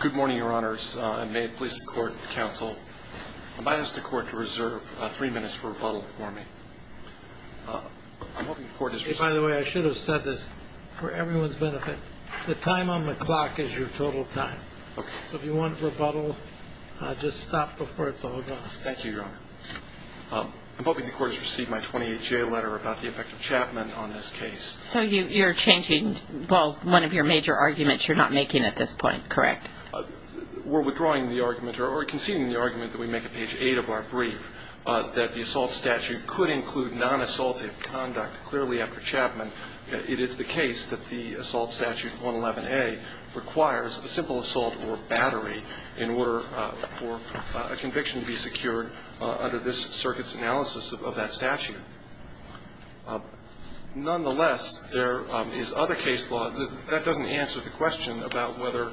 Good morning, your honors. I ask the court to reserve three minutes for rebuttal for me. By the way, I should have said this for everyone's benefit. The time on the clock is your total time. So if you want rebuttal, just stop before it's all gone. Thank you, your honor. I'm hoping the court has received my 28-J letter about the effect of Chapman on this case. So you're changing, well, one of your major arguments you're not making at this point, correct? We're withdrawing the argument or conceding the argument that we make at page 8 of our brief that the assault statute could include non-assaultive conduct. Clearly, after Chapman, it is the case that the assault statute 111A requires a simple assault or battery in order for a conviction to be secured under this circuit's analysis of that statute. Nonetheless, there is other case law that doesn't answer the question about whether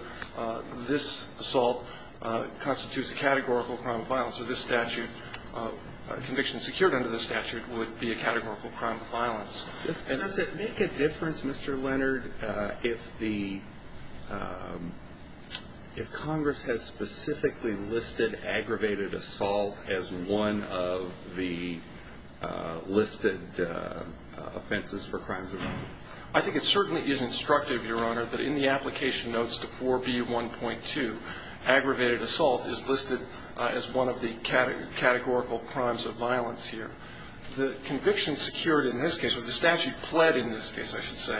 this assault constitutes a categorical crime of violence or this statute, conviction secured under this statute, would be a categorical crime of violence. Does it make a difference, Mr. Leonard, if the – if Congress has specifically listed aggravated assault as one of the listed offenses for crimes of violence? I think it certainly is instructive, your honor, that in the application notes to 4B1.2, aggravated assault is listed as one of the categorical crimes of violence here. The conviction secured in this case, or the statute pled in this case, I should say,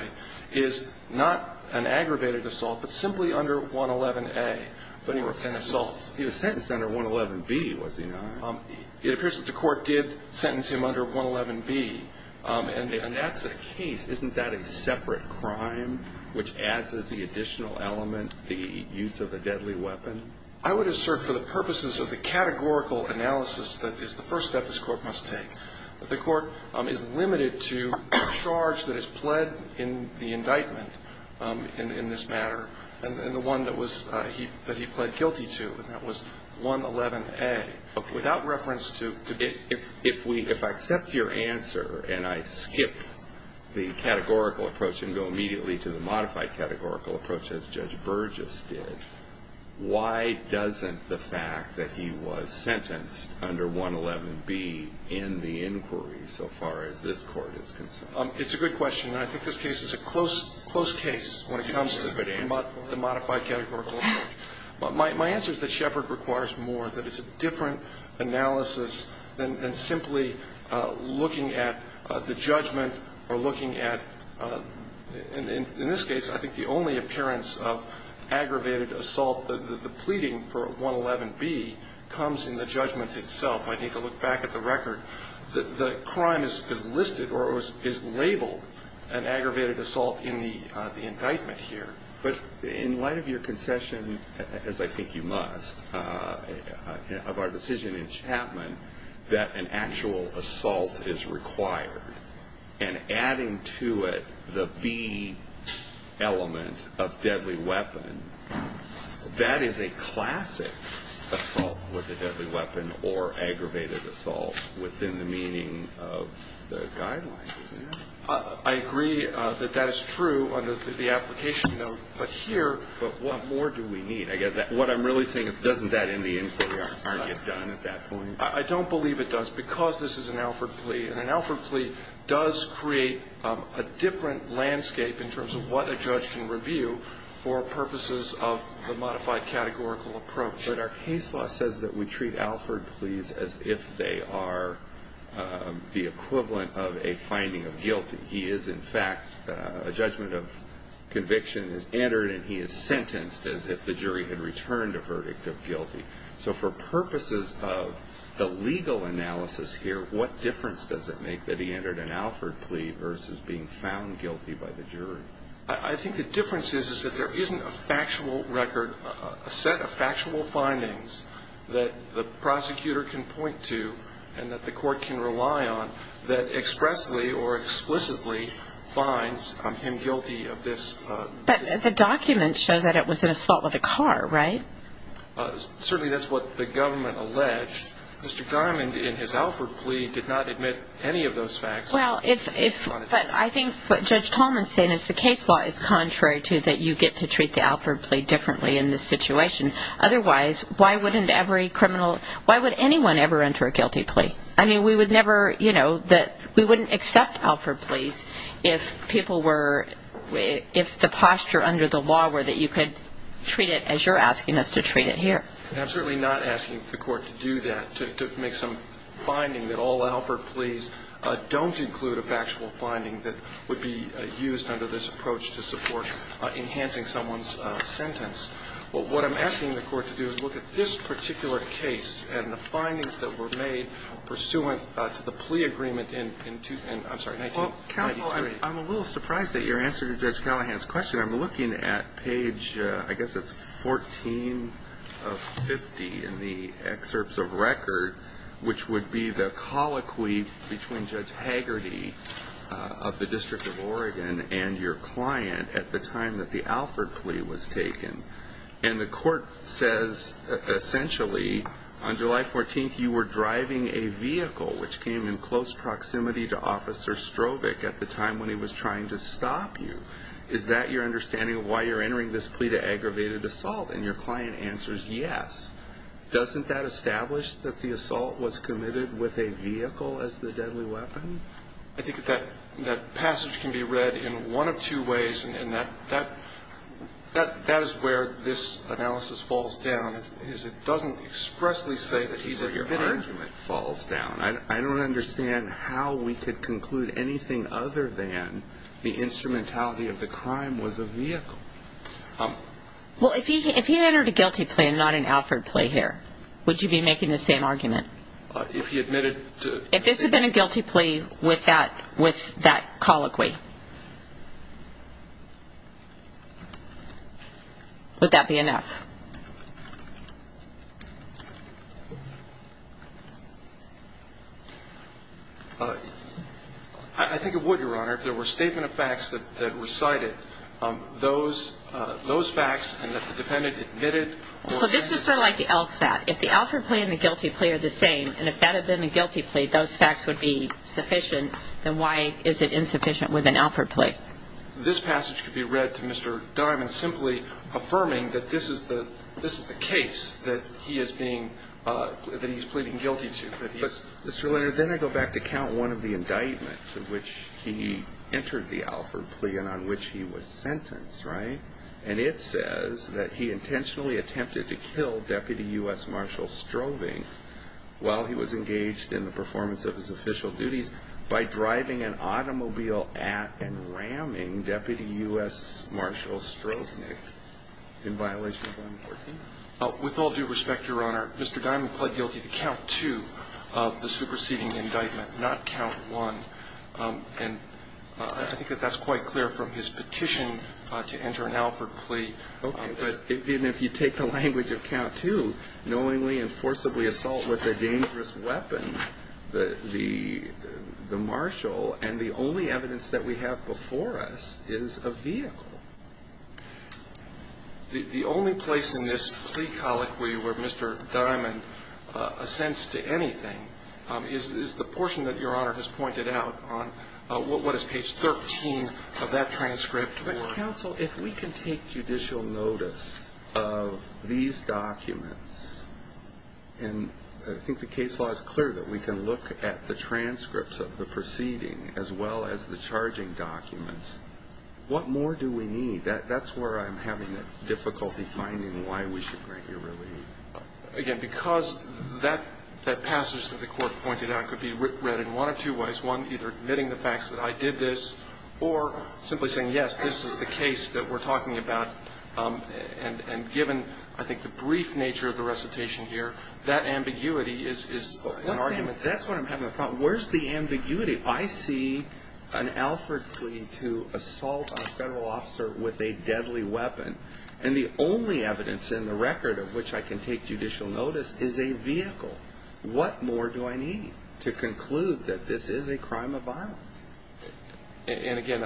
is not an aggravated assault, but simply under 111A for an assault. He was sentenced under 111B, was he not? It appears that the Court did sentence him under 111B. And that's the case. Isn't that a separate crime which adds as the additional element the use of a deadly weapon? I would assert for the purposes of the categorical analysis that is the first step this Court must take, that the Court is limited to the charge that is pled in the indictment in this matter, and the one that was – that he pled guilty to, and that was 111A. Without reference to – If we – if I accept your answer and I skip the categorical approach and go immediately to the modified categorical approach as Judge Burgess did, why doesn't the fact that he was sentenced under 111B end the inquiry so far as this Court is concerned? It's a good question. And I think this case is a close, close case when it comes to the modified categorical approach. My answer is that Shepard requires more, that it's a different analysis than simply looking at the judgment or looking at – in this case, I think the only appearance of aggravated assault, the pleading for 111B, comes in the judgment itself. I need to look back at the record. The crime is listed or is labeled an aggravated assault in the indictment here. But in light of your concession, as I think you must, of our decision in Chapman, that an actual assault is required, and adding to it the B element of deadly weapon, that is a classic assault with a deadly weapon or aggravated assault within the meaning of the guidelines, isn't it? I agree that that is true under the application note. But here – But what more do we need? What I'm really saying is, doesn't that end the inquiry or get done at that point? I don't believe it does, because this is an Alford plea. And an Alford plea does create a different landscape in terms of what a judge can do versus the modified categorical approach. But our case law says that we treat Alford pleas as if they are the equivalent of a finding of guilty. He is, in fact, a judgment of conviction is entered and he is sentenced as if the jury had returned a verdict of guilty. So for purposes of the legal analysis here, what difference does it make that he entered an Alford plea versus being found guilty by the jury? I think the difference is that there isn't a factual record, a set of factual findings that the prosecutor can point to and that the court can rely on that expressly or explicitly finds him guilty of this. But the documents show that it was an assault with a car, right? Certainly that's what the government alleged. Mr. Diamond, in his Alford plea, did not admit any of those facts. I think what Judge Tolman is saying is the case law is contrary to that you get to treat the Alford plea differently in this situation. Otherwise, why wouldn't every criminal, why would anyone ever enter a guilty plea? I mean, we would never, you know, we wouldn't accept Alford pleas if people were, if the posture under the law were that you could treat it as you're asking us to treat it here. I'm certainly not asking the court to do that, to make some finding that all would include a factual finding that would be used under this approach to support enhancing someone's sentence. But what I'm asking the court to do is look at this particular case and the findings that were made pursuant to the plea agreement in, I'm sorry, 1993. Counsel, I'm a little surprised at your answer to Judge Callahan's question. I'm looking at page, I guess it's 14 of 50 in the excerpts of record, which would be the colloquy between Judge Hagerty of the District of Oregon and your client at the time that the Alford plea was taken. And the court says, essentially, on July 14th you were driving a vehicle, which came in close proximity to Officer Strovic at the time when he was trying to stop you. Is that your understanding of why you're entering this plea to aggravated assault? And your client answers yes. Doesn't that establish that the assault was committed with a vehicle as the deadly weapon? I think that that passage can be read in one of two ways, and that is where this analysis falls down. It doesn't expressly say that he's a victim. That's where your argument falls down. I don't understand how we could conclude anything other than the instrumentality of the crime was a vehicle. Well, if he entered a guilty plea and not an Alford plea here, would you be making the same argument? If he admitted to the same thing? If this had been a guilty plea with that colloquy, would that be enough? I think it would, Your Honor. If there were statement of facts that were cited, those facts and that the defendant admitted or admitted. So this is sort of like the Elf fact. If the Alford plea and the guilty plea are the same, and if that had been a guilty plea those facts would be sufficient, then why is it insufficient with an Alford plea? This passage could be read to Mr. Diamond simply affirming that this is the case that he is being, that he's pleading guilty to. But, Mr. Leonard, then I go back to count one of the indictments in which he entered the Alford plea and on which he was sentenced, right? And it says that he intentionally attempted to kill Deputy U.S. Marshal Strovnik while he was engaged in the performance of his official duties by driving an automobile at and ramming Deputy U.S. Marshal Strovnik in violation of 914. With all due respect, Your Honor, Mr. Diamond pled guilty to count two of the superseding indictment, not count one. And I think that that's quite clear from his petition to enter an Alford plea. Okay. But even if you take the language of count two, knowingly and forcibly assault with a dangerous weapon, the Marshal and the only evidence that we have before us is a vehicle. The only place in this plea colloquy where Mr. Diamond assents to anything is the portion that Your Honor has pointed out on what is page 13 of that transcript. But, counsel, if we can take judicial notice of these documents, and I think the case law is clear that we can look at the transcripts of the proceeding as well as the charging documents, what more do we need? That's where I'm having difficulty finding why we should grant you relief. Again, because that passage that the Court pointed out could be read in one of two ways, one, either admitting the facts that I did this, or simply saying, yes, this is the case that we're talking about, and given, I think, the brief nature of the recitation here, that ambiguity is an argument. Where's the ambiguity? I see an Alfred plea to assault a Federal officer with a deadly weapon, and the only evidence in the record of which I can take judicial notice is a vehicle. What more do I need to conclude that this is a crime of violence? And, again,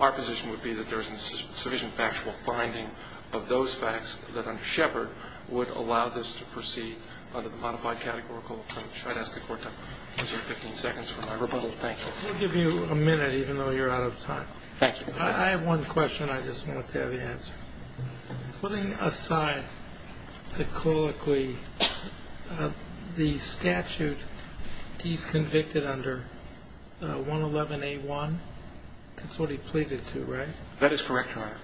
our position would be that there isn't sufficient factual finding of those facts that under Shepard would allow this to proceed under the modified categorical approach. I'd ask the Court to consider 15 seconds for my rebuttal. Thank you. We'll give you a minute, even though you're out of time. Thank you. I have one question I just want to have answered. Putting aside the colloquy, the statute, he's convicted under 111A1. That's what he pleaded to, right? That is correct, Your Honor.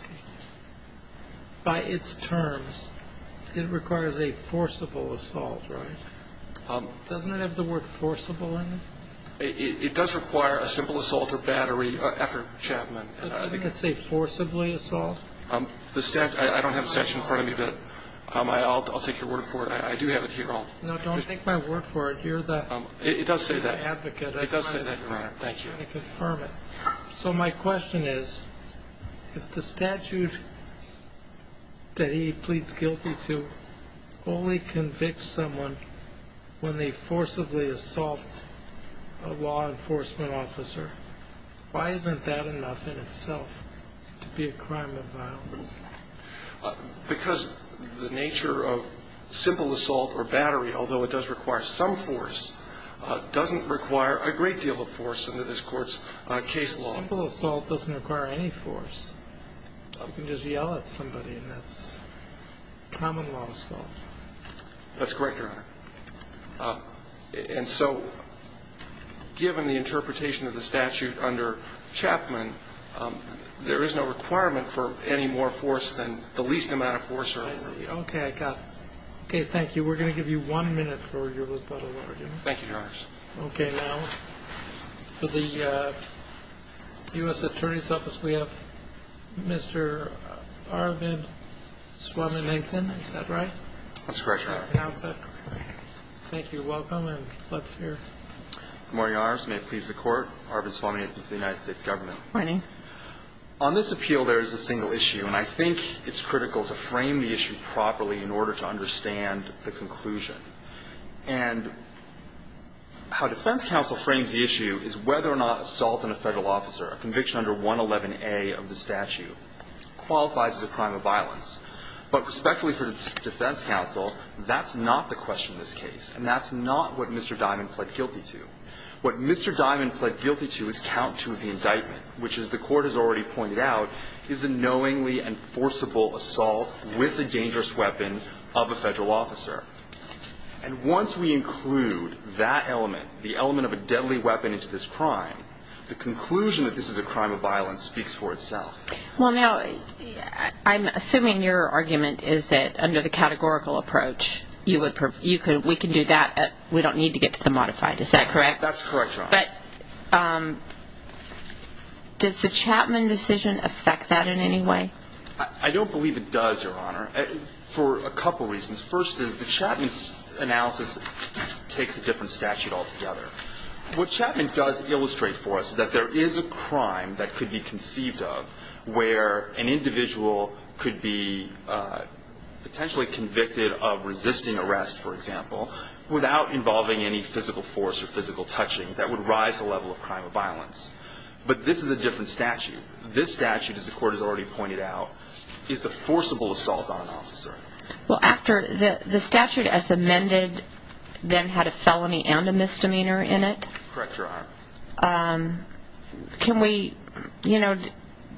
By its terms, it requires a forcible assault, right? Doesn't it have the word forcible in it? It does require a simple assault or battery after Chapman. Doesn't it say forcibly assault? I don't have the statute in front of me, but I'll take your word for it. I do have it here. No, don't take my word for it. You're the advocate. It does say that, Your Honor. Thank you. I confirm it. So my question is, if the statute that he pleads guilty to only convicts someone when they forcibly assault a law enforcement officer, why isn't that enough in itself to be a crime of violence? Because the nature of simple assault or battery, although it does require some force, doesn't require a great deal of force under this Court's case law. Simple assault doesn't require any force. You can just yell at somebody, and that's common law assault. That's correct, Your Honor. And so, given the interpretation of the statute under Chapman, there is no requirement for any more force than the least amount of force. I see. Okay, I got it. Okay, thank you. We're going to give you one minute for your little bit of argument. Thank you, Your Honors. Okay. Now, for the U.S. Attorney's Office, we have Mr. Arvind Swaminathan. Is that right? That's correct, Your Honor. Thank you. You're welcome. And let's hear. Good morning, Your Honors. May it please the Court. Arvind Swaminathan with the United States Government. Good morning. On this appeal, there is a single issue, and I think it's critical to frame the issue properly in order to understand the conclusion. And how defense counsel frames the issue is whether or not assault on a Federal officer, a conviction under 111A of the statute, qualifies as a crime of violence. But respectfully for defense counsel, that's not the question in this case, and that's not what Mr. Diamond pled guilty to. What Mr. Diamond pled guilty to is count two of the indictment, which, as the Court has already pointed out, is a knowingly enforceable assault with a dangerous weapon of a Federal officer. And once we include that element, the element of a deadly weapon into this crime, the conclusion that this is a crime of violence speaks for itself. Well, now, I'm assuming your argument is that under the categorical approach, we can do that. We don't need to get to the modified. Is that correct? That's correct, Your Honor. But does the Chapman decision affect that in any way? I don't believe it does, Your Honor, for a couple reasons. First is the Chapman analysis takes a different statute altogether. What Chapman does illustrate for us is that there is a crime that could be where an individual could be potentially convicted of resisting arrest, for example, without involving any physical force or physical touching. That would rise the level of crime of violence. But this is a different statute. This statute, as the Court has already pointed out, is the forcible assault on an officer. Well, after the statute as amended then had a felony and a misdemeanor in it. Correct, Your Honor. Can we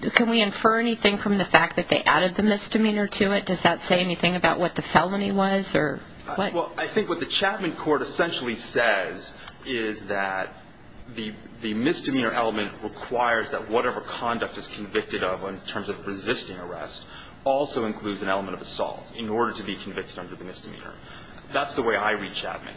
infer anything from the fact that they added the misdemeanor to it? Does that say anything about what the felony was or what? Well, I think what the Chapman court essentially says is that the misdemeanor element requires that whatever conduct is convicted of in terms of resisting arrest also includes an element of assault in order to be convicted under the misdemeanor. That's the way I read Chapman.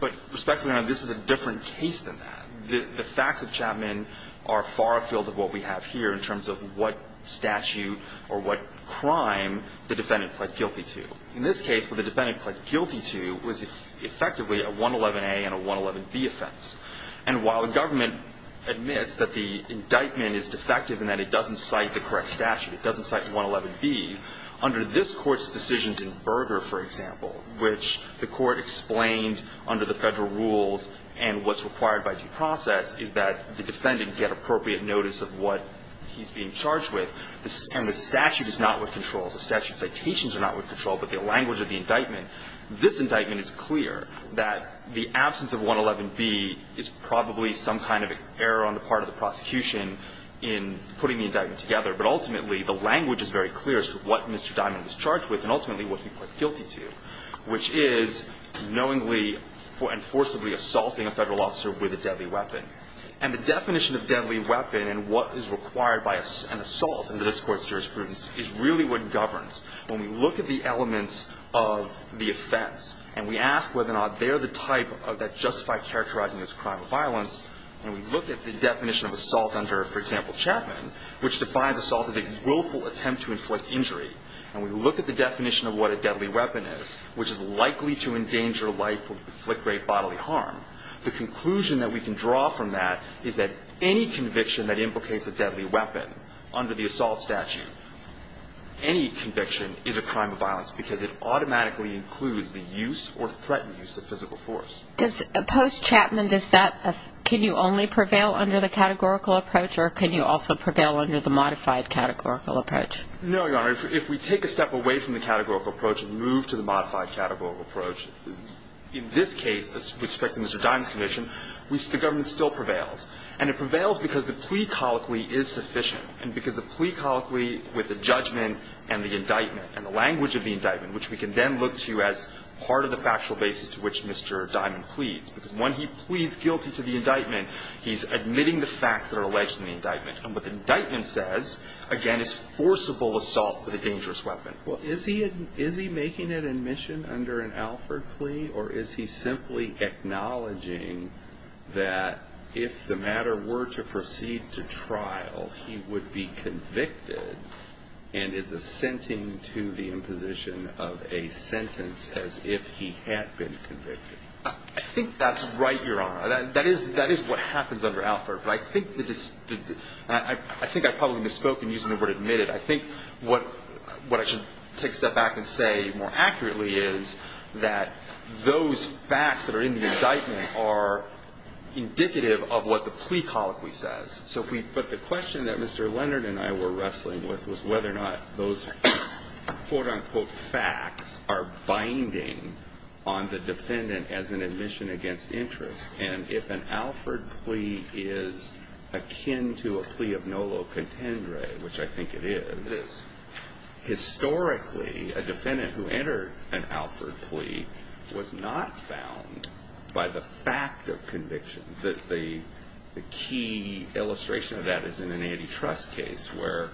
But, Respectfully, Your Honor, this is a different case than that. The facts of Chapman are far afield of what we have here in terms of what statute or what crime the defendant pled guilty to. In this case, what the defendant pled guilty to was effectively a 111A and a 111B offense. And while the government admits that the indictment is defective and that it doesn't cite the correct statute, it doesn't cite the 111B, under this Court's decisions in Berger, for example, which the Court explained under the Federal rules and what's required by due process is that the defendant get appropriate notice of what he's being charged with. And the statute is not what controls. The statute citations are not what control, but the language of the indictment. This indictment is clear that the absence of 111B is probably some kind of error on the part of the prosecution in putting the indictment together. But ultimately, the language is very clear as to what Mr. Diamond was charged with and ultimately what he pled guilty to, which is knowingly and forcibly assaulting a Federal officer with a deadly weapon. And the definition of deadly weapon and what is required by an assault in this Court's jurisprudence is really what governs. When we look at the elements of the offense and we ask whether or not they are the type that justify characterizing this crime of violence, and we look at the definition of assault under, for example, Chapman, which defines assault as a willful attempt to inflict injury, and we look at the definition of what a deadly weapon is, which is likely to endanger life or inflict great bodily harm, the conclusion that we can draw from that is that any conviction that implicates a deadly weapon under the assault statute, any conviction is a crime of violence because it automatically includes the use or threatened use of physical force. Does post-Chapman, can you only prevail under the categorical approach or can you also prevail under the modified categorical approach? No, Your Honor. If we take a step away from the categorical approach and move to the modified categorical approach, in this case, with respect to Mr. Diamond's conviction, the government still prevails. And it prevails because the plea colloquy is sufficient and because the plea colloquy with the judgment and the indictment and the language of the indictment, which we can then look to as part of the factual basis to which Mr. Diamond pleads. Because when he pleads guilty to the indictment, he's admitting the facts that are alleged in the indictment. And what the indictment says, again, is forcible assault with a dangerous weapon. Well, is he making an admission under an Alford plea, or is he simply acknowledging that if the matter were to proceed to trial, he would be convicted and is assenting to the imposition of a sentence as if he had been convicted? I think that's right, Your Honor. That is what happens under Alford. But I think the – I think I probably misspoke in using the word admitted. I think what I should take a step back and say more accurately is that those facts that are in the indictment are indicative of what the plea colloquy says. So we – but the question that Mr. Leonard and I were wrestling with was whether or not those, quote, unquote, facts are binding on the defendant as an admission against interest. And if an Alford plea is akin to a plea of nolo contendere, which I think it is, historically, a defendant who entered an Alford plea was not found by the fact of conviction, the key illustration of that is in an antitrust case where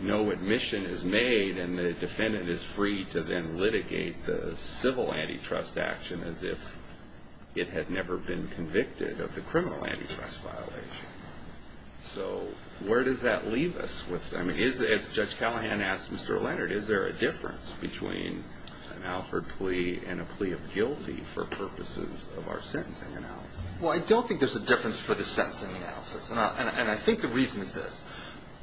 no admission is made and the defendant is free to then litigate the civil antitrust action as if it had never been convicted of the criminal antitrust violation. So where does that leave us? I mean, as Judge Callahan asked Mr. Leonard, is there a difference between an Alford plea and a plea of guilty for purposes of our sentencing analysis? Well, I don't think there's a difference for the sentencing analysis. And I think the reason is this.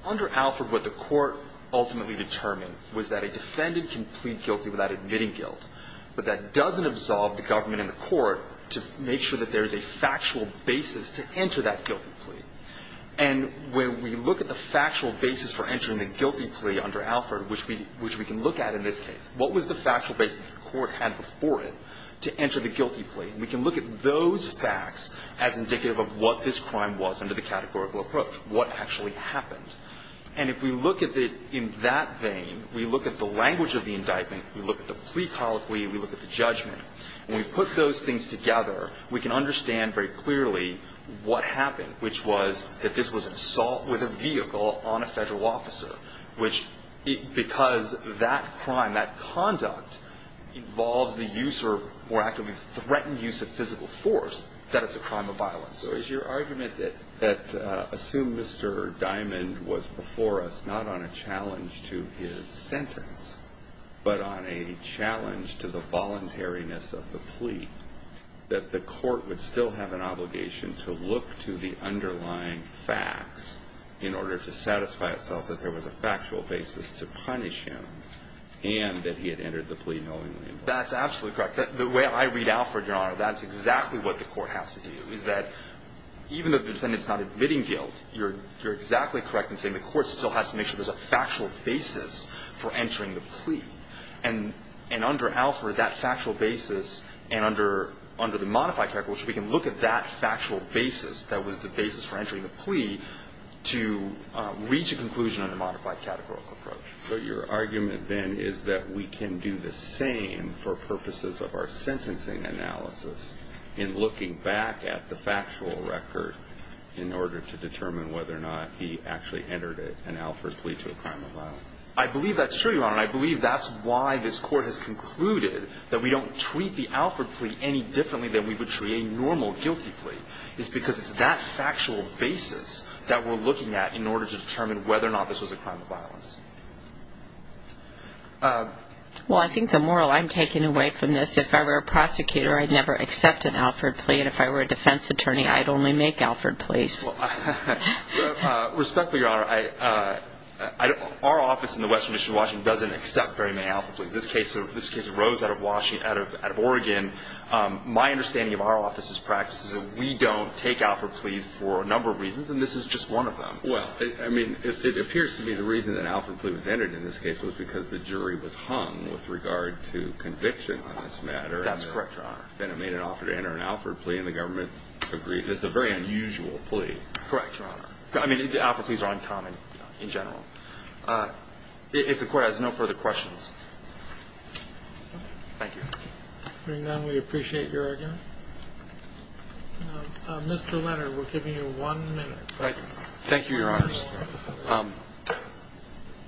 Under Alford, what the Court ultimately determined was that a defendant can plead guilty without admitting guilt, but that doesn't absolve the government and the Court to make sure that there is a factual basis to enter that guilty plea. And when we look at the factual basis for entering the guilty plea under Alford, which we – which we can look at in this case, what was the factual basis the Court had before it to enter the guilty plea? We can look at those facts as indicative of what this crime was under the categorical approach, what actually happened. And if we look at it in that vein, we look at the language of the indictment, we look at the plea colloquy, we look at the judgment. When we put those things together, we can understand very clearly what happened, which was that this was assault with a vehicle on a Federal officer, which, because that crime, that conduct, involves the use or more actively threatened use of physical force, that it's a crime of violence. So is your argument that, assume Mr. Diamond was before us not on a challenge to his sentence, but on a challenge to the voluntariness of the plea, that the Court would still have an obligation to look to the underlying facts in order to satisfy I mean, the Court is saying itself that there was a factual basis to punish him and that he had entered the plea knowingly. That's absolutely correct. The way I read Alford, Your Honor, that's exactly what the Court has to do, is that even though the defendant is not admitting guilt, you're – you're exactly correct in saying the Court still has to make sure there's a factual basis for entering the plea. And – and under Alford, that factual basis, and under – under the modified categorical approach, we can look at that factual basis that was the basis for entering the plea to reach a conclusion on a modified categorical approach. So your argument, then, is that we can do the same for purposes of our sentencing analysis in looking back at the factual record in order to determine whether or not he actually entered an Alford plea to a crime of violence. I believe that's true, Your Honor, and I believe that's why this Court has concluded that we don't treat the Alford plea any differently than we would treat a normal guilty plea, is because it's that factual basis that we're looking at in order to determine whether or not this was a crime of violence. Well, I think the moral I'm taking away from this, if I were a prosecutor, I'd never accept an Alford plea, and if I were a defense attorney, I'd only make Alford pleas. Respectfully, Your Honor, our office in the Western District of Washington doesn't accept very many Alford pleas. This case arose out of Oregon. My understanding of our office's practice is that we don't take Alford pleas for a number of reasons, and this is just one of them. Well, I mean, it appears to me the reason that an Alford plea was entered in this case was because the jury was hung with regard to conviction on this matter. That's correct, Your Honor. Then it made an offer to enter an Alford plea, and the government agreed. That's a very unusual plea. Correct, Your Honor. I mean, Alford pleas are uncommon in general. If the Court has no further questions. Thank you. Hearing none, we appreciate your argument. Mr. Leonard, we're giving you one minute. Thank you, Your Honors.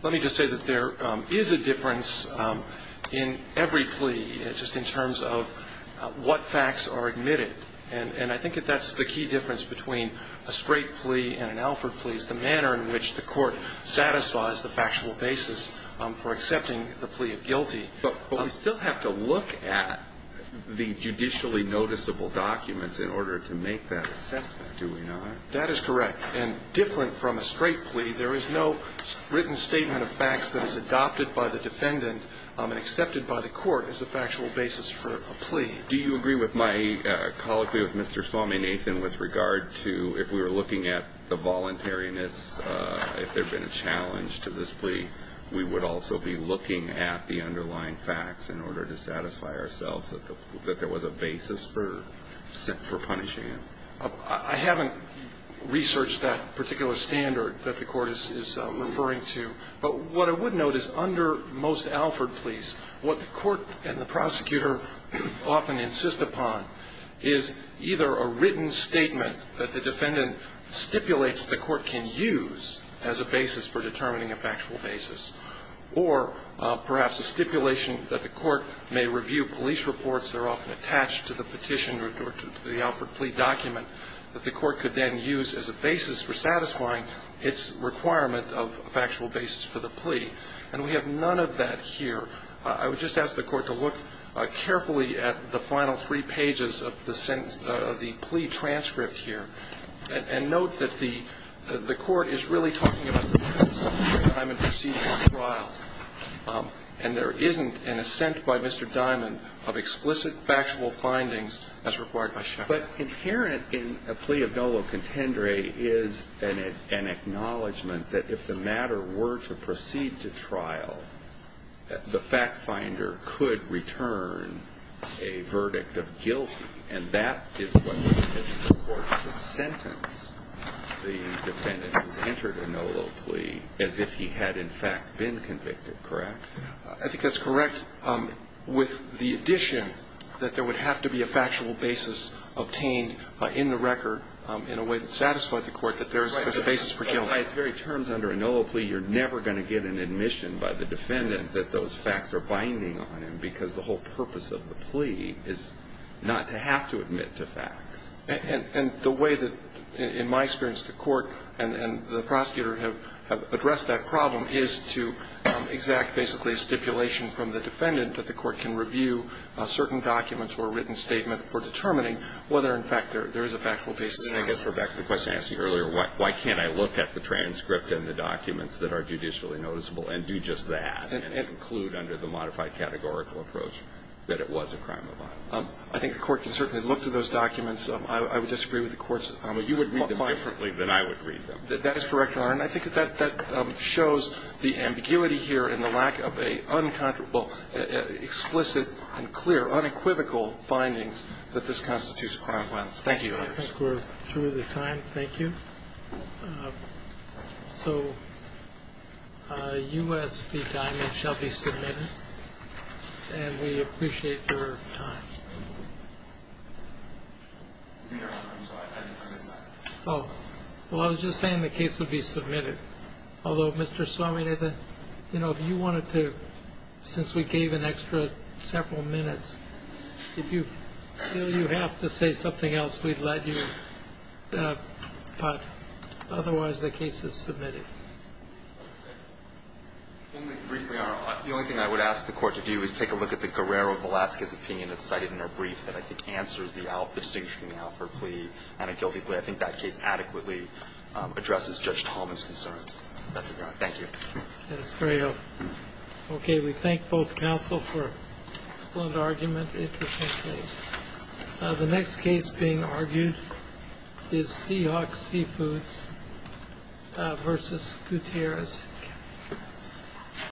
Let me just say that there is a difference in every plea, just in terms of what facts are admitted. And I think that that's the key difference between a straight plea and an Alford plea, is the manner in which the Court satisfies the factual basis for accepting the plea of guilty. But we still have to look at the judicially noticeable documents in order to make that assessment, do we not? That is correct. And different from a straight plea, there is no written statement of facts that is adopted by the defendant and accepted by the Court as a factual basis for a plea. Do you agree with my colloquy with Mr. Swaminathan with regard to if we were looking at the voluntariness, if there had been a challenge to this plea, we would also be looking at the underlying facts in order to satisfy ourselves that there was a basis for punishing him? I haven't researched that particular standard that the Court is referring to. But what I would note is under most Alford pleas, what the Court and the prosecutor often insist upon is either a written statement that the defendant stipulates the Court can use as a basis for determining a factual basis, or perhaps a stipulation that the Court may review police reports that are often attached to the petition or to the Alford plea document that the Court could then use as a basis for satisfying its requirement of a factual basis for the plea. And we have none of that here. I would just ask the Court to look carefully at the final three pages of the sentence of the plea transcript here, and note that the Court is really talking about the basis of Mr. Diamond proceeding to trial. And there isn't an assent by Mr. Diamond of explicit factual findings as required by Chevron. But inherent in a plea of Nolo contendere is an acknowledgment that if the matter were to proceed to trial, the fact-finder could return a verdict of guilty. And that is what permits the Court to sentence the defendant who has entered a Nolo plea as if he had, in fact, been convicted, correct? I think that's correct. With the addition that there would have to be a factual basis obtained in the record in a way that satisfied the Court that there's a basis for guilt. By its very terms, under a Nolo plea, you're never going to get an admission by the defendant that those facts are binding on him because the whole purpose of the plea is not to have to admit to facts. And the way that, in my experience, the Court and the prosecutor have addressed that problem is to exact basically a stipulation from the defendant that the Court can review certain documents or a written statement for determining whether, in fact, there is a factual basis. And I guess we're back to the question I asked you earlier, why can't I look at the transcript and the documents that are judicially noticeable and do just that and conclude under the modified categorical approach that it was a crime of violence? I think the Court can certainly look to those documents. I would disagree with the Court's findings. You would read them differently than I would read them. That is correct, Your Honor. And I think that that shows the ambiguity here and the lack of a uncontroversial Thank you, Your Honor. I think we're through the time. Thank you. So U.S. v. Diamond shall be submitted. And we appreciate your time. Your Honor, I'm sorry. I missed that. Oh. Well, I was just saying the case would be submitted. Although, Mr. Sorminata, you know, if you wanted to, since we gave an extra several minutes, if you feel you have to say something else, we'd let you. But otherwise, the case is submitted. Briefly, Your Honor, the only thing I would ask the Court to do is take a look at the Guerrero-Velasquez opinion that's cited in her brief that I think answers the distinction between the Alford plea and a guilty plea. I think that case adequately addresses Judge Tallman's concerns. That's it, Your Honor. Thank you. That's very helpful. Okay. We thank both counsel for an excellent argument. Interesting case. The next case being argued is Seahawk Seafoods v. Gutierrez.